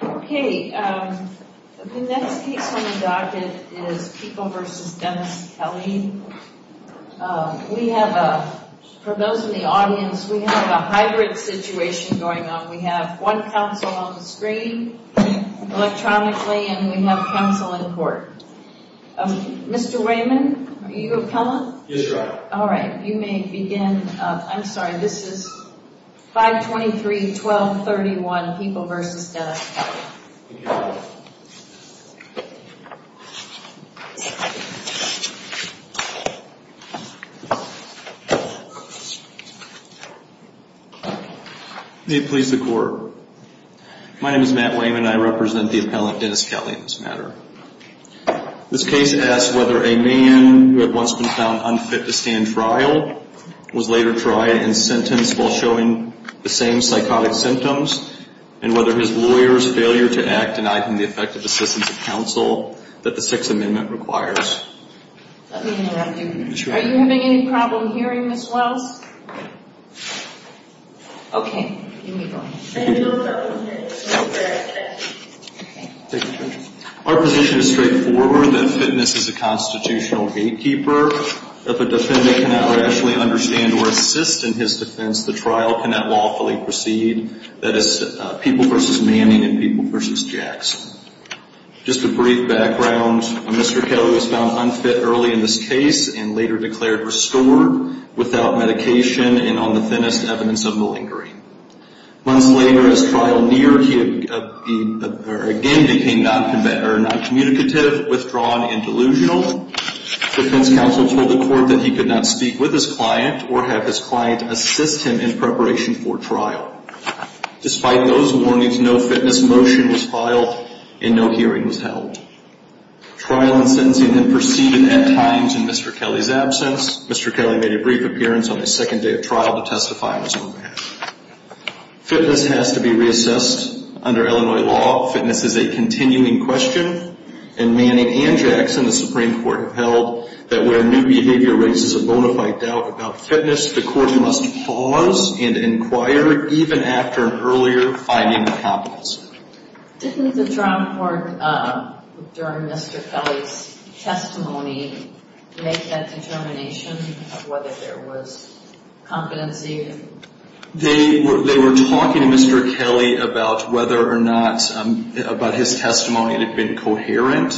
The next case on the docket is People v. Dennis Kelly. We have, for those in the audience, we have a hybrid situation going on. We have one counsel on the screen, electronically, and we have counsel in court. Mr. Raymond, are you appellant? Yes, Your Honor. All right, you may begin. I'm sorry, this is 523-1231, People v. Dennis Kelly. May it please the Court. My name is Matt Wayman. I represent the appellant, Dennis Kelly, in This case asks whether a man who had once been found unfit to stand trial was later tried and sentenced while showing the same psychotic symptoms, and whether his lawyer's failure to act denied him the effective assistance of counsel that the Sixth Amendment requires. Let me interrupt you. Are you having any problem hearing, Ms. Wells? Okay, you may go ahead. Our position is straightforward, that fitness is a constitutional gatekeeper. If a defendant cannot rationally understand or assist in his defense, the trial cannot lawfully proceed. That is People v. Manning and People v. Jackson. Just a brief background, Mr. Kelly was found unfit early in this case and later declared restored without medication and on the thinnest evidence of malingering. Months later, as trial neared, he again became noncommunicative, withdrawn and delusional. Defense counsel told the Court that he could not speak with his client or have his client assist him in preparation for trial. Despite those warnings, no fitness motion was filed and no hearing was held. Trial and sentencing had proceeded at times in Mr. Kelly's absence. Mr. Kelly made a brief appearance on the second day of trial to testify on his own behalf. Fitness has to be reassessed under Illinois law. Fitness is a continuing question, and Manning and Jackson, the Supreme Court, have held that where new behavior raises a bona fide doubt about fitness, the Court must pause and inquire even after an earlier finding of competence. Didn't the Drum Court, during Mr. Kelly's testimony, make that determination of whether there was competency? They were talking to Mr. Kelly about whether or not, about his testimony, it had been coherent.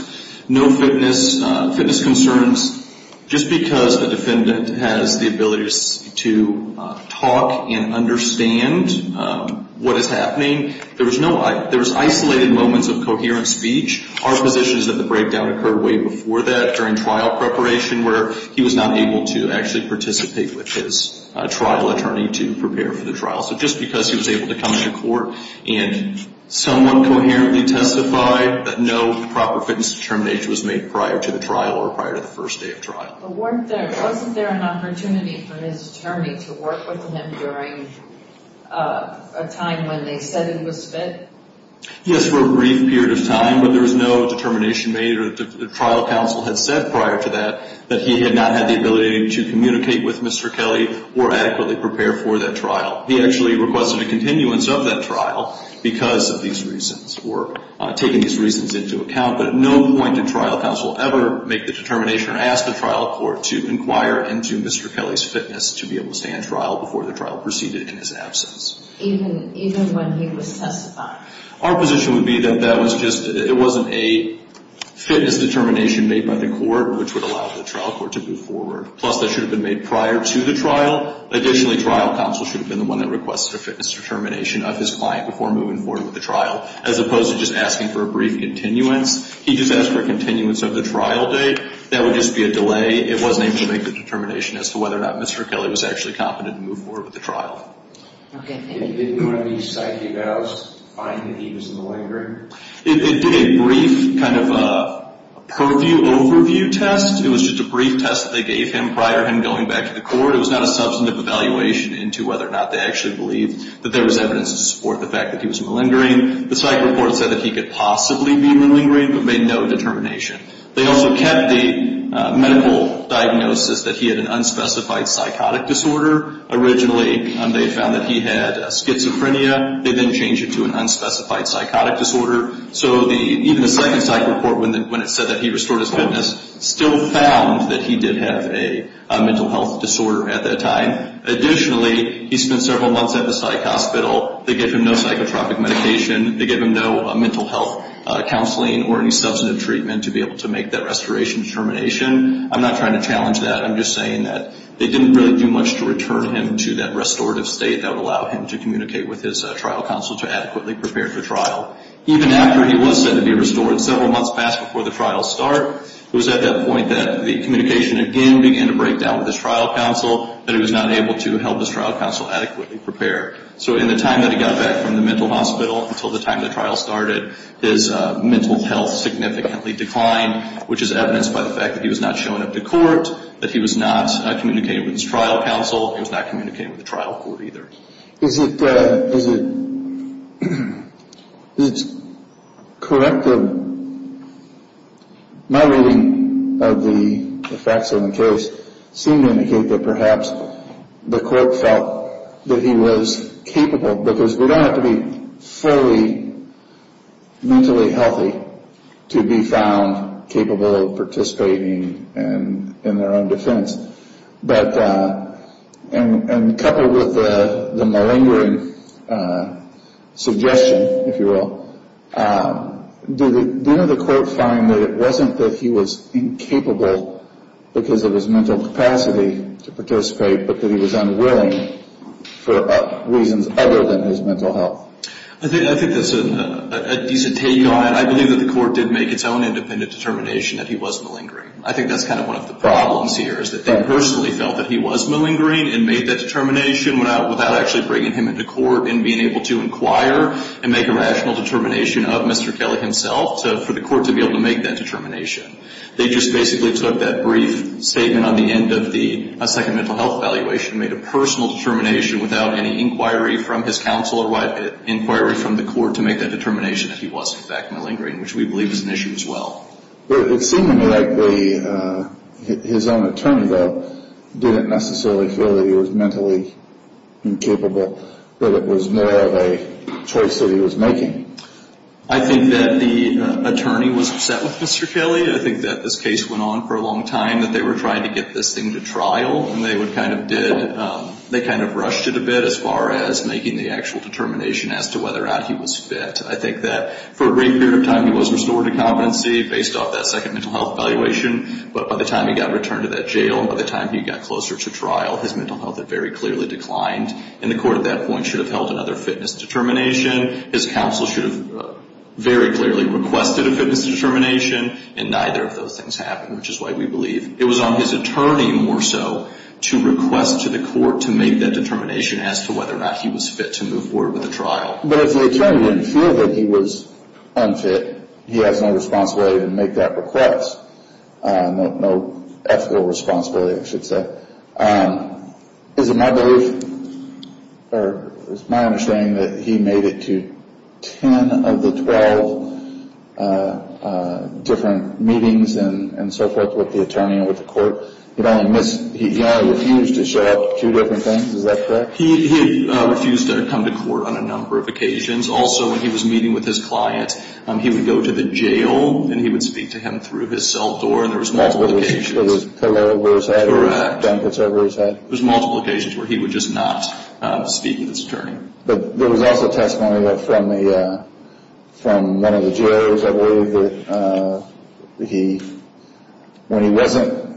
No fitness concerns, just because the defendant has the ability to talk and understand what is happening. There was no, there was isolated moments of coherent speech. Our position is that the breakdown occurred way before that, during trial preparation, where he was not able to actually participate with his trial attorney to prepare for the trial. So just because he was able to come into court and somewhat coherently testify that no proper fitness determination was made prior to the trial or prior to the first day of trial. Wasn't there an opportunity for his attorney to work with him during a time when they said the defendant was fit? Yes, for a brief period of time, but there was no determination made, or the trial counsel had said prior to that, that he had not had the ability to communicate with Mr. Kelly or adequately prepare for that trial. He actually requested a continuance of that trial because of these reasons, or taking these reasons into account. But at no point did trial counsel ever make the determination or ask the trial court to inquire into Mr. Kelly's fitness to be able to stand trial before the trial proceeded in his absence. Even when he was testifying? Our position would be that that was just, it wasn't a fitness determination made by the court which would allow the trial court to move forward. Plus, that should have been made prior to the trial. Additionally, trial counsel should have been the one that requested a fitness determination of his client before moving forward with the trial, as opposed to just asking for a brief continuance. He just asked for a continuance of the trial date. That would just be a delay. It wasn't able to make the determination as to whether or not Mr. Kelly was actually competent to move forward with the trial. Okay, thank you. Did one of these psyche evals find that he was malingering? It did a brief kind of purview overview test. It was just a brief test that they gave him prior to him going back to the court. It was not a substantive evaluation into whether or not they actually believed that there was evidence to support the fact that he was malingering. The psyche report said that he could possibly be malingering, but made no determination. They also kept the medical diagnosis that he had an unspecified psychotic disorder originally and they found that he had schizophrenia. They then changed it to an unspecified psychotic disorder. So even the psyche report, when it said that he restored his fitness, still found that he did have a mental health disorder at that time. Additionally, he spent several months at the psych hospital. They gave him no psychotropic medication. They gave him no mental health counseling or any substantive treatment to be able to make that restoration determination. I'm not trying to challenge that. I'm just saying that they didn't really do much to return him to that restorative state that would allow him to communicate with his trial counsel to adequately prepare for trial. Even after he was said to be restored, several months passed before the trial start. It was at that point that the communication again began to break down with his trial counsel, that he was not able to help his trial counsel adequately prepare. So in the time that he got back from the mental hospital until the time the trial started, his mental health significantly declined, which is evidenced by the fact that he was not shown up to court, that he was not communicating with his trial counsel, and he was not communicating with the trial court either. Is it correct that my reading of the facts of the case seem to indicate that perhaps the court felt that he was capable, because we don't have to be fully mentally healthy to be found capable of participating in their own defense. But, and coupled with the malingering suggestion, if you will, did the court find that it wasn't that he was incapable because of his mental capacity to participate, but that he was unwilling for reasons other than his mental health? I think that's a decent take on it. I believe that the court did make its own independent determination that he was malingering. I think that's kind of one of the problems here is that they personally felt that he was malingering and made that determination without actually bringing him into court and being able to inquire and make a rational determination of Mr. Kelly himself for the court to be able to make that determination. They just basically took that brief statement on the end of the second mental health evaluation and made a personal determination without any inquiry from his counsel or inquiry from the court to make that determination that he was in fact malingering, which we believe is an issue as well. It seemed to me like his own attorney, though, didn't necessarily feel that he was mentally incapable, that it was more of a choice that he was making. I think that the attorney was upset with Mr. Kelly. I think that this case went on for a long time, that they were trying to get this thing to trial, and they kind of rushed it a bit as far as making the actual determination as to whether or not he was fit. I think that for a brief period of time he was restored to competency based off that second mental health evaluation, but by the time he got returned to that jail and by the time he got closer to trial, his mental health had very clearly declined, and the court at that point should have held another fitness determination. His counsel should have very clearly requested a fitness determination, and neither of those things happened, which is why we believe it was on his attorney more so to request to the court to make that determination as to whether or not he was fit to move forward with the trial. But if the attorney didn't feel that he was unfit, he has no responsibility to make that request. No ethical responsibility, I should say. Is it my belief, or is it my understanding that he made it to 10 of the 12 different meetings and so forth with the attorney and with the court? He only refused to show up to two different things, is that correct? He refused to come to court on a number of occasions. Also, when he was meeting with his client, he would go to the jail and he would speak to him through his cell door. There was multiple occasions. With his pillow over his head or blankets over his head? Correct. There was multiple occasions where he would just not speak to this attorney. But there was also testimony from one of the jailors, I believe, that when he wasn't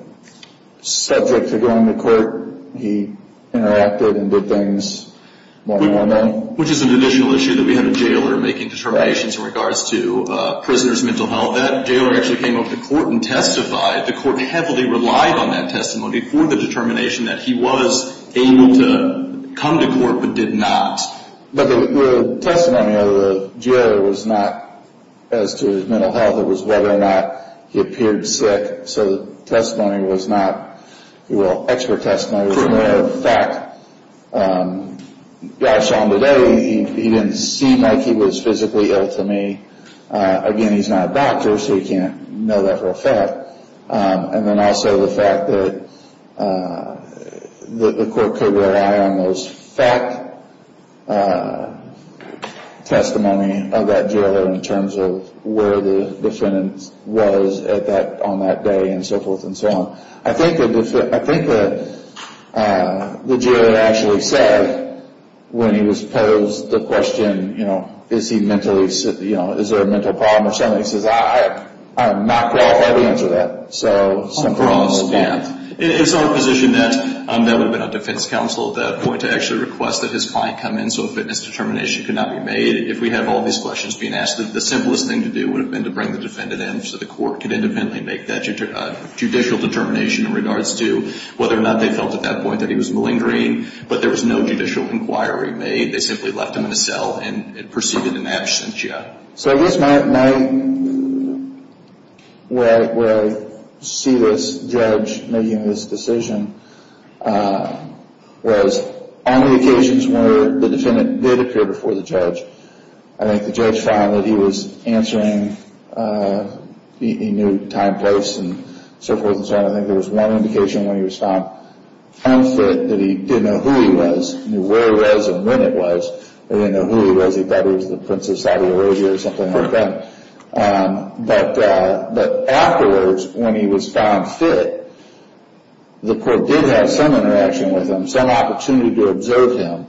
subject to going to court, he interacted and did things more normally. Which is an additional issue that we have a jailer making determinations in regards to prisoners' mental health. That jailer actually came over to court and testified. The court heavily relied on that testimony for the determination that he was able to come to court but did not. But the testimony of the jailer was not as to his mental health. It was whether or not he appeared sick. So the testimony was not, well, expert testimony. As a matter of fact, I saw him today. He didn't seem like he was physically ill to me. Again, he's not a doctor, so you can't know that for a fact. And then also the fact that the court could rely on those fact testimonies of that jailer in terms of where the defendant was on that day and so forth and so on. I think the jailer actually said, when he was posed the question, is there a mental health problem or something, he says, I'm not qualified to answer that. So, something along those lines. It's our position that that would have been a defense counsel at that point to actually request that his client come in so a fitness determination could not be made. If we have all these questions being asked, the simplest thing to do would have been to bring the defendant in so the court could independently make that judicial determination in regards to whether or not they felt at that point that he was malingering. But there was no judicial inquiry made. They simply left him in a cell and proceeded in absentia. So, I guess where I see this judge making this decision was on the occasions where the defendant did appear before the judge. I think the judge found that he was answering, he knew time, place and so forth and so on. I think there was one indication when he was found unfit that he didn't know who he was. He knew where he was and when he was. He didn't know who he was. He thought he was the Prince of Saudi Arabia or something like that. But afterwards, when he was found fit, the court did have some interaction with him. Some opportunity to observe him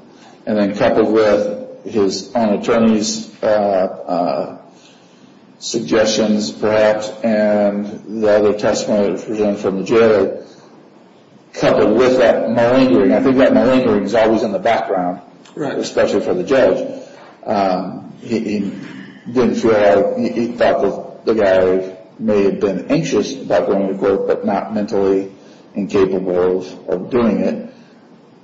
and then coupled with his own attorney's suggestions perhaps and the other testimony presented from the judge coupled with that malingering. Malingering is always in the background. Right. Especially for the judge. He didn't feel like, he thought the guy may have been anxious about going to court but not mentally incapable of doing it.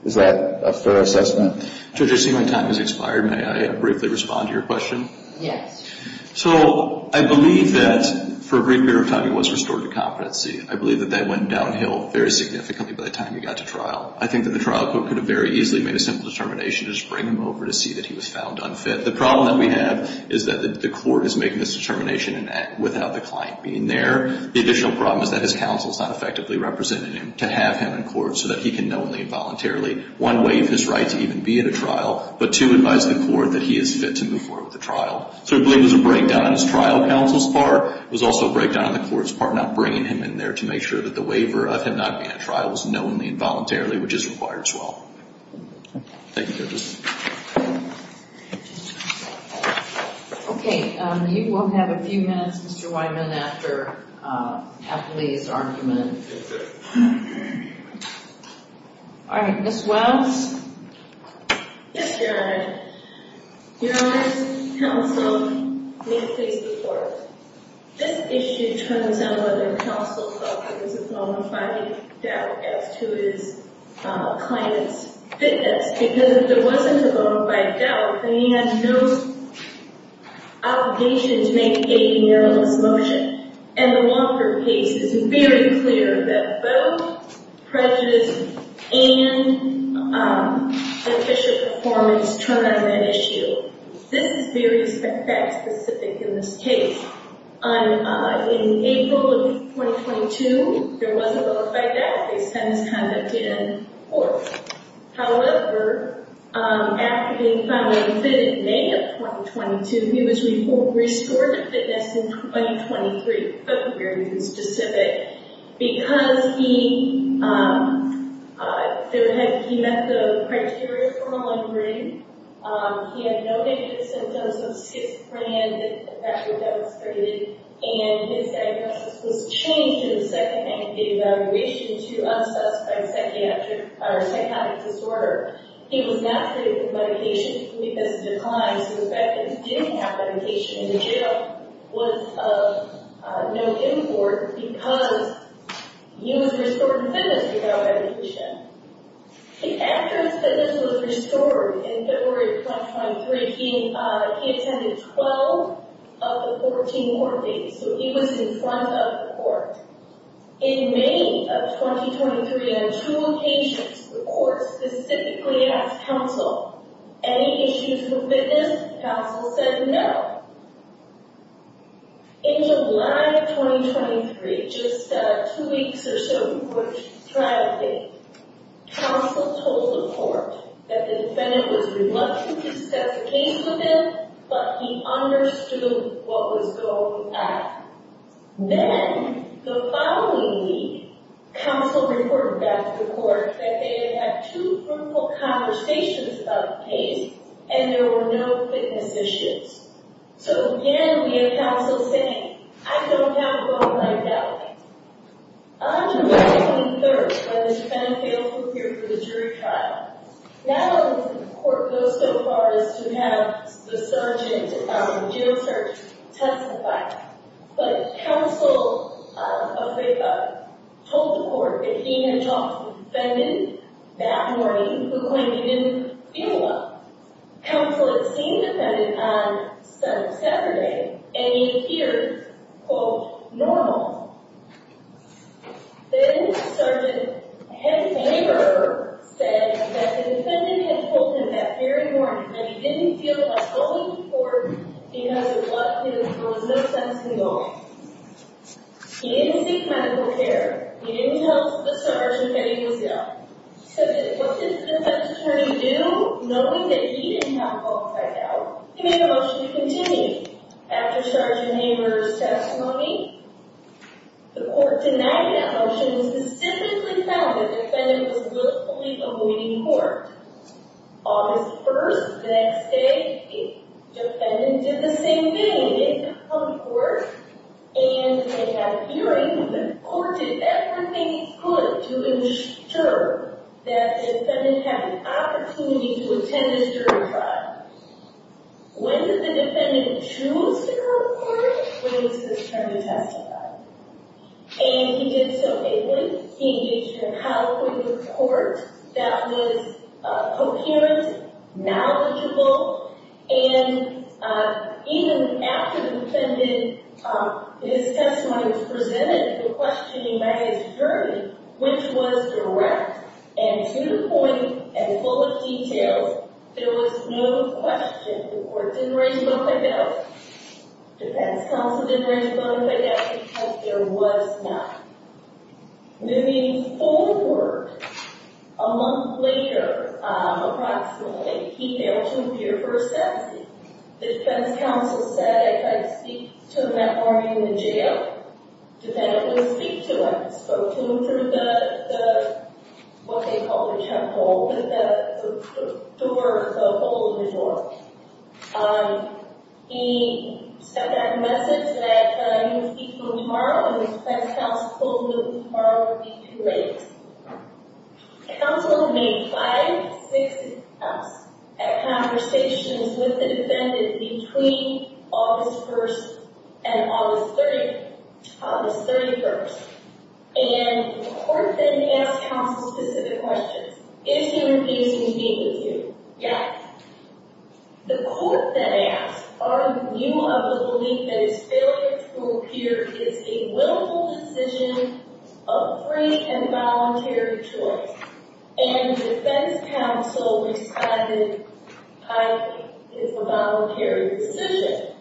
Is that a fair assessment? Judge, I see my time has expired. May I briefly respond to your question? Yes. So, I believe that for a great deal of time he was restored to competency. I believe that that went downhill very significantly by the time he got to trial. I think that the trial court could have very easily made a simple determination to just bring him over to see that he was found unfit. The problem that we have is that the court is making this determination without the client being there. The additional problem is that his counsel is not effectively representing him to have him in court so that he can knowingly and voluntarily, one, waive his right to even be at a trial, but two, advise the court that he is fit to move forward with the trial. So, I believe it was a breakdown on his trial counsel's part. It was also a breakdown on the court's part not bringing him in there to make sure that the waiver of him not being at trial was knowingly and voluntarily, which is required as well. Thank you, Justice. Okay. You will have a few minutes, Mr. Wyman, after Atlee's argument. All right. Ms. Wells? Yes, Your Honor. Your Honor, this counsel may please report. This issue turns on whether counsel felt there was a bona fide doubt as to his client's fitness because if there wasn't a bona fide doubt, then he had no obligation to make a narrow motion. And the Walker case is very clear that both prejudice and official performance turn on that issue. This is very fact-specific in this case. In April of 2022, there was a bona fide doubt based on his conduct in court. However, after being finally admitted in May of 2022, he was restored to fitness in 2023. That's very specific because he met the criteria for a livery. He had no negative symptoms of schizophrenia that was demonstrated, and his diagnosis was changed in the second evaluation to unsuspecting psychiatric or psychotic disorder. He was not treated with medication because of his decline, so the fact that he didn't have medication in the jail was of no import because he was restored to fitness without medication. After his fitness was restored in February of 2023, he attended 12 of the 14 court dates, so he was in front of the court. In May of 2023, on two occasions, the court specifically asked counsel, any issues with fitness? Counsel said no. In July of 2023, just two weeks or so before the trial date, counsel told the court that the defendant was reluctant to discuss the case with him, but he understood what was going on. Then the following week, counsel reported back to the court that they had had two fruitful conversations about the case, and there were no fitness issues. So again, we have counsel saying, I don't have a bone marrow damage. On July 23rd, when this defendant failed to appear for the jury trial, not only did the court go so far as to have the jail surgeon testify, but counsel told the court that he had talked to the defendant that morning who claimed he didn't feel well. Counsel had seen the defendant on Saturday, and he appeared, quote, normal. Then the surgeon's neighbor said that the defendant had told him that very morning that he didn't feel well in court because of what he was doing no sense at all. He didn't seek medical care. He didn't tell the surgeon that he was ill. So then what did the defense attorney do, knowing that he didn't have a pulse right now? He made a motion to continue. After the surgeon's neighbor's testimony, the court denied that motion and specifically found that the defendant was willfully avoiding court. August 1st, the next day, the defendant did the same thing. He didn't come to court. And they had a hearing. The court did everything it could to ensure that the defendant had an opportunity to attend his jury trial. When did the defendant choose to come to court? When it was his turn to testify. And he did so ably. He engaged in an outpouring of support that was coherent, knowledgeable. And even after the defendant, his testimony was presented, the questioning by his jury, which was direct and to the point and full of details, there was no question. The court didn't raise a vote by bail. The defense counsel didn't raise a vote by bail because there was none. Moving forward, a month later, approximately, he failed to appear for a sentencing. The defense counsel said, I tried to speak to him that morning in the jail. The defendant wouldn't speak to him. He spoke to him through the, what they call the temple, the door, the open door. He sent back a message that he would speak to him tomorrow, and his defense counsel told him that tomorrow would be too late. Counsel made five, six attempts at conversations with the defendant between August 1st and August 31st. And the court then asked counsel specific questions. Is he refusing to meet with you? Yes. The court then asked, are you of the belief that his failure to appear is a willful decision, a free and voluntary choice? And the defense counsel responded, I think it's a voluntary decision.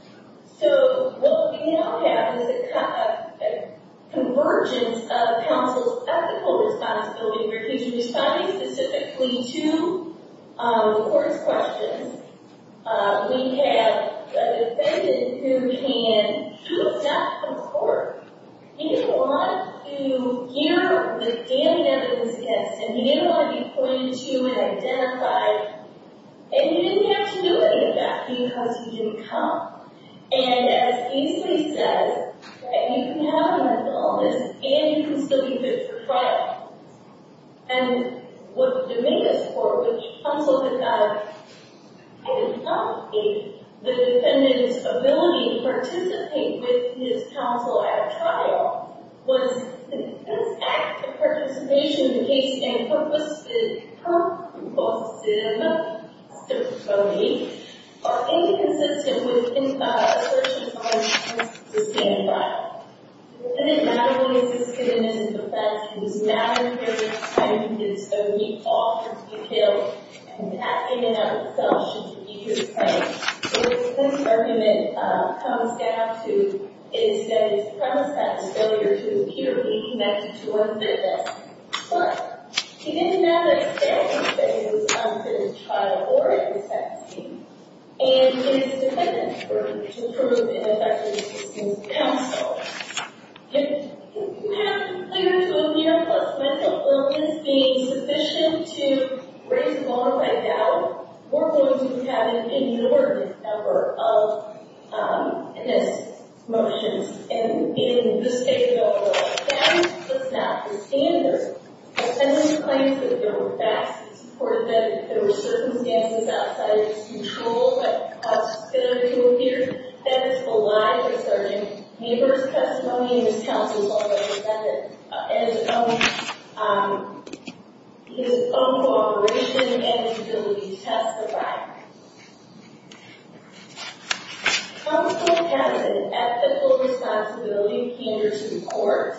So what we now have is a convergence of counsel's ethical responsibility, where he's responding specifically to the court's questions. We have the defendant who can accept the court. He didn't want to hear the damning evidence against him. He didn't want to be pointed to and identified. And he didn't have to do any of that because he didn't come. And as Casey says, you can have mental illness, and you can still be put for trial. And what the domain is for, which counsel had not identified, the defendant's ability to participate with his counsel at trial was an act of participation in case and purpose, which is the purpose of the testimony, inconsistent with his assertions on the basis of the stand trial. The defendant not only existed in his defense, he was not prepared to defend himself. He offered to be killed. And that came in as a self-defeating claim. So this argument comes down to, is that his premise that his failure to appear may be connected to unfitness. But he didn't have an extent to say he was unfit as a trial or in his defense team. And it is dependent for him to prove ineffective as his counsel. If you have an appearance of appearance plus mental illness being sufficient to raise a motto like that, we're going to be having an inordinate number of unfitness motions. And in this case, though, that was not the standard. The defendant claims that there were facts that support that there were circumstances outside of his control that caused Spinner to appear. That is a lie, Mr. Arjan. The defendant's testimony and his counsel's all represented in his own cooperation and his ability to testify. Counsel has an ethical responsibility in Kanderson Court.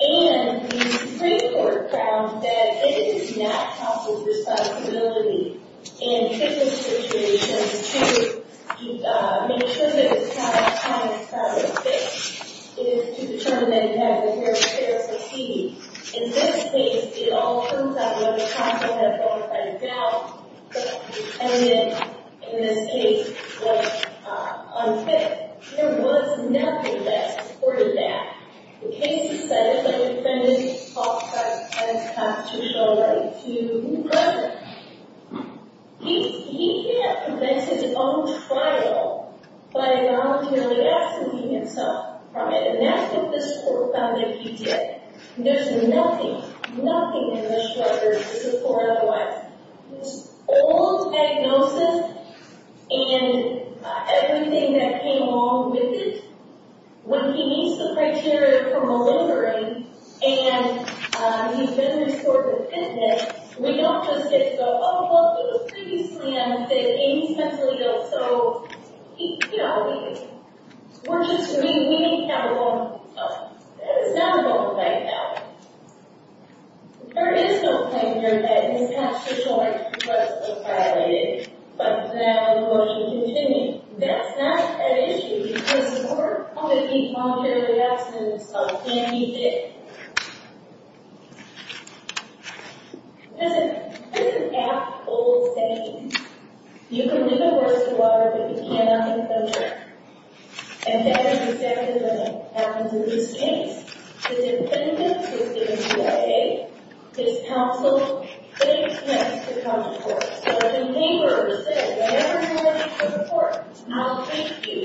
And the Supreme Court found that it is not counsel's responsibility in a criminal situation to make sure that the trial is having a solid fit. It is to determine that he has a fair appeal. In this case, it all comes down to whether counsel has bona fide doubt that the defendant, in this case, was unfit. There was nothing that supported that. The case decided that the defendant talked about his constitutional right to be present. He can't prevent his own trial by voluntarily absenteeing himself from it. And that's what this court found that he did. There's nothing, nothing in the structure to support otherwise. This old diagnosis and everything that came along with it, when he meets the criteria for malingering, and he's been restored to fitness, we don't just get to go, oh, well, he was previously unfit, and he's mentally ill, so he, you know, we're just, we need to have a bone to pick up. That is not a bona fide doubt. There is no claim here that his past retort was violated. But now, in looking to continue, that's not an issue, because the court found that he voluntarily abstained himself, and he did. This is an apt old saying. You can live a worst of life if you cannot make the best of it. And that is exactly what happens in this case. The defendant was given a day, his counsel, eight minutes to come to court. So the neighbor said, whenever you're ready for the court, I'll take you.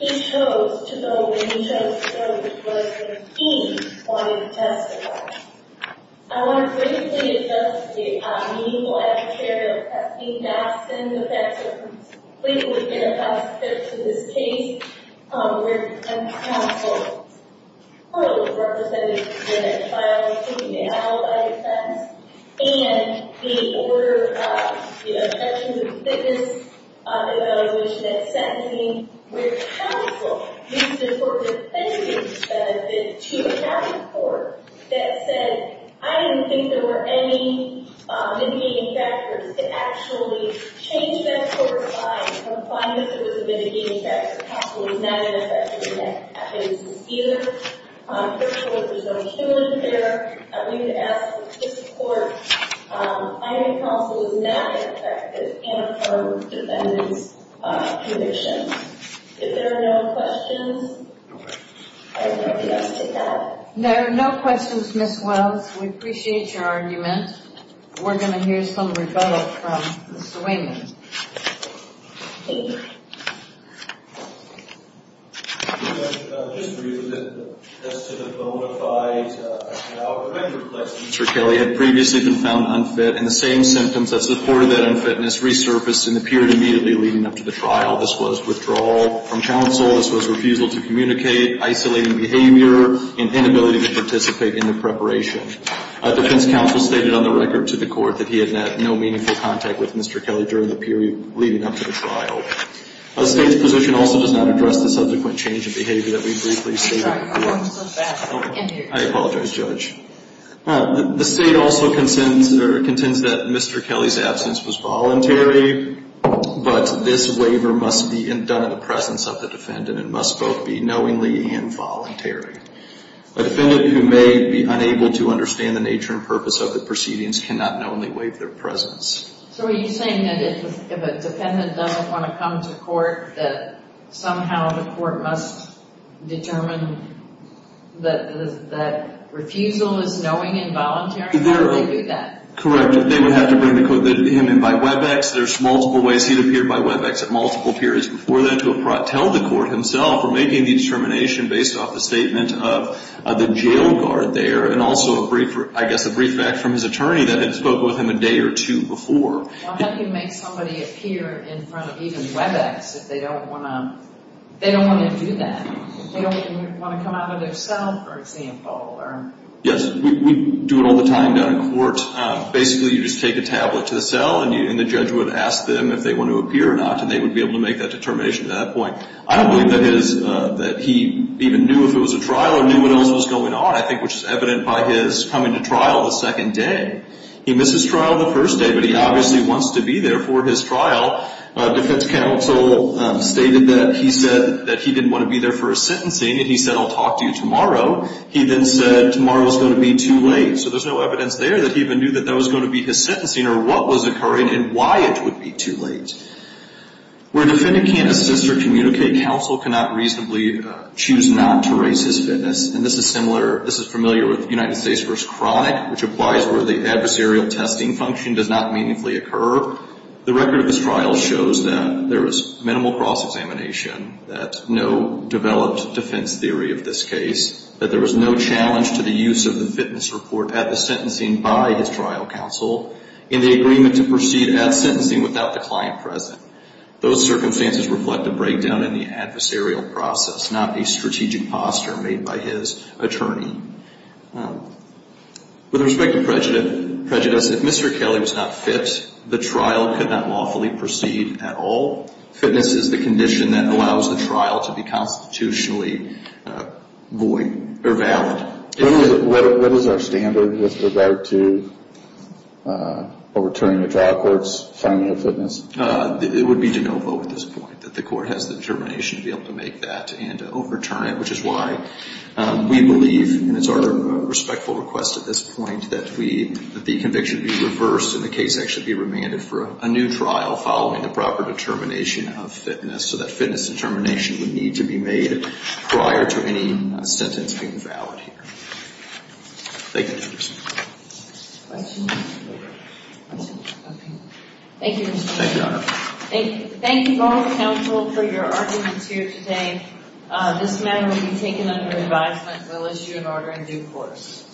He chose to go when he chose to go, because he wanted to testify. I want to briefly address the meaningful adversarial testing and doxing effects that are completely inappropriate to this case, where the counsel was represented in a trial, taking a validated sentence. And the order of, you know, sections of the thickness evaluation that's sentencing, where the counsel needs to work with the defendant to have a court that said, I didn't think there were any indicating factors that actually changed that court's mind, or find that there was a mitigating factor. The counsel was not affected in that case either. First of all, there's no human fair. We've asked this court, I think the counsel was not affected in her defendant's conviction. If there are no questions, I would like to ask a doubt. There are no questions, Ms. Wells. We appreciate your argument. We're going to hear some rebuttal from Mr. Wayman. Mr. Kelly had previously been found unfit, and the same symptoms that supported that unfitness resurfaced in the period immediately leading up to the trial. This was withdrawal from counsel. This was refusal to communicate, isolating behavior, and inability to participate in the preparation. Defense counsel stated on the record to the court that he had had no meaningful contact with Mr. Kelly during the period leading up to the trial. The state's position also does not address the subsequent change in behavior that we briefly stated before. I apologize, Judge. The state also contends that Mr. Kelly's absence was voluntary, but this waiver must be done in the presence of the defendant and must both be knowingly and voluntary. A defendant who may be unable to understand the nature and purpose of the proceedings cannot knowingly waive their presence. So are you saying that if a defendant doesn't want to come to court, that somehow the court must determine that refusal is knowing and voluntary? How do they do that? Correct. They would have to bring him in by Webex. There's multiple ways he'd appear by Webex at multiple periods before then or making the determination based off the statement of the jail guard there and also, I guess, a brief back from his attorney that had spoken with him a day or two before. How do you make somebody appear in front of even Webex if they don't want to do that? They don't want to come out of their cell, for example? Yes. We do it all the time down in court. Basically, you just take a tablet to the cell, and the judge would ask them if they want to appear or not, and they would be able to make that determination at that point. I don't believe that he even knew if it was a trial or knew what else was going on, I think, which is evident by his coming to trial the second day. He missed his trial the first day, but he obviously wants to be there for his trial. Defense counsel stated that he said that he didn't want to be there for a sentencing, and he said, I'll talk to you tomorrow. He then said tomorrow is going to be too late. So there's no evidence there that he even knew that that was going to be his sentencing or what was occurring and why it would be too late. Where defendant can't assist or communicate, counsel cannot reasonably choose not to raise his fitness. And this is similar. This is familiar with United States v. Chronic, which applies where the adversarial testing function does not meaningfully occur. The record of this trial shows that there was minimal cross-examination, that no developed defense theory of this case, that there was no challenge to the use of the fitness report at the sentencing by his trial counsel. And the agreement to proceed at sentencing without the client present. Those circumstances reflect a breakdown in the adversarial process, not a strategic posture made by his attorney. With respect to prejudice, if Mr. Kelly was not fit, the trial could not lawfully proceed at all. Fitness is the condition that allows the trial to be constitutionally valid. What is our standard with regard to overturning a trial court's finding of fitness? It would be de novo at this point, that the court has the determination to be able to make that and overturn it, which is why we believe, and it's our respectful request at this point, that the conviction be reversed and the case actually be remanded for a new trial following the proper determination of fitness, so that fitness determination would need to be made prior to any sentence being valid here. Thank you. Thank you, Mr. Kelly. Thank you, Your Honor. Thank you both counsel for your arguments here today. This matter will be taken under advisement. We'll issue an order in due course.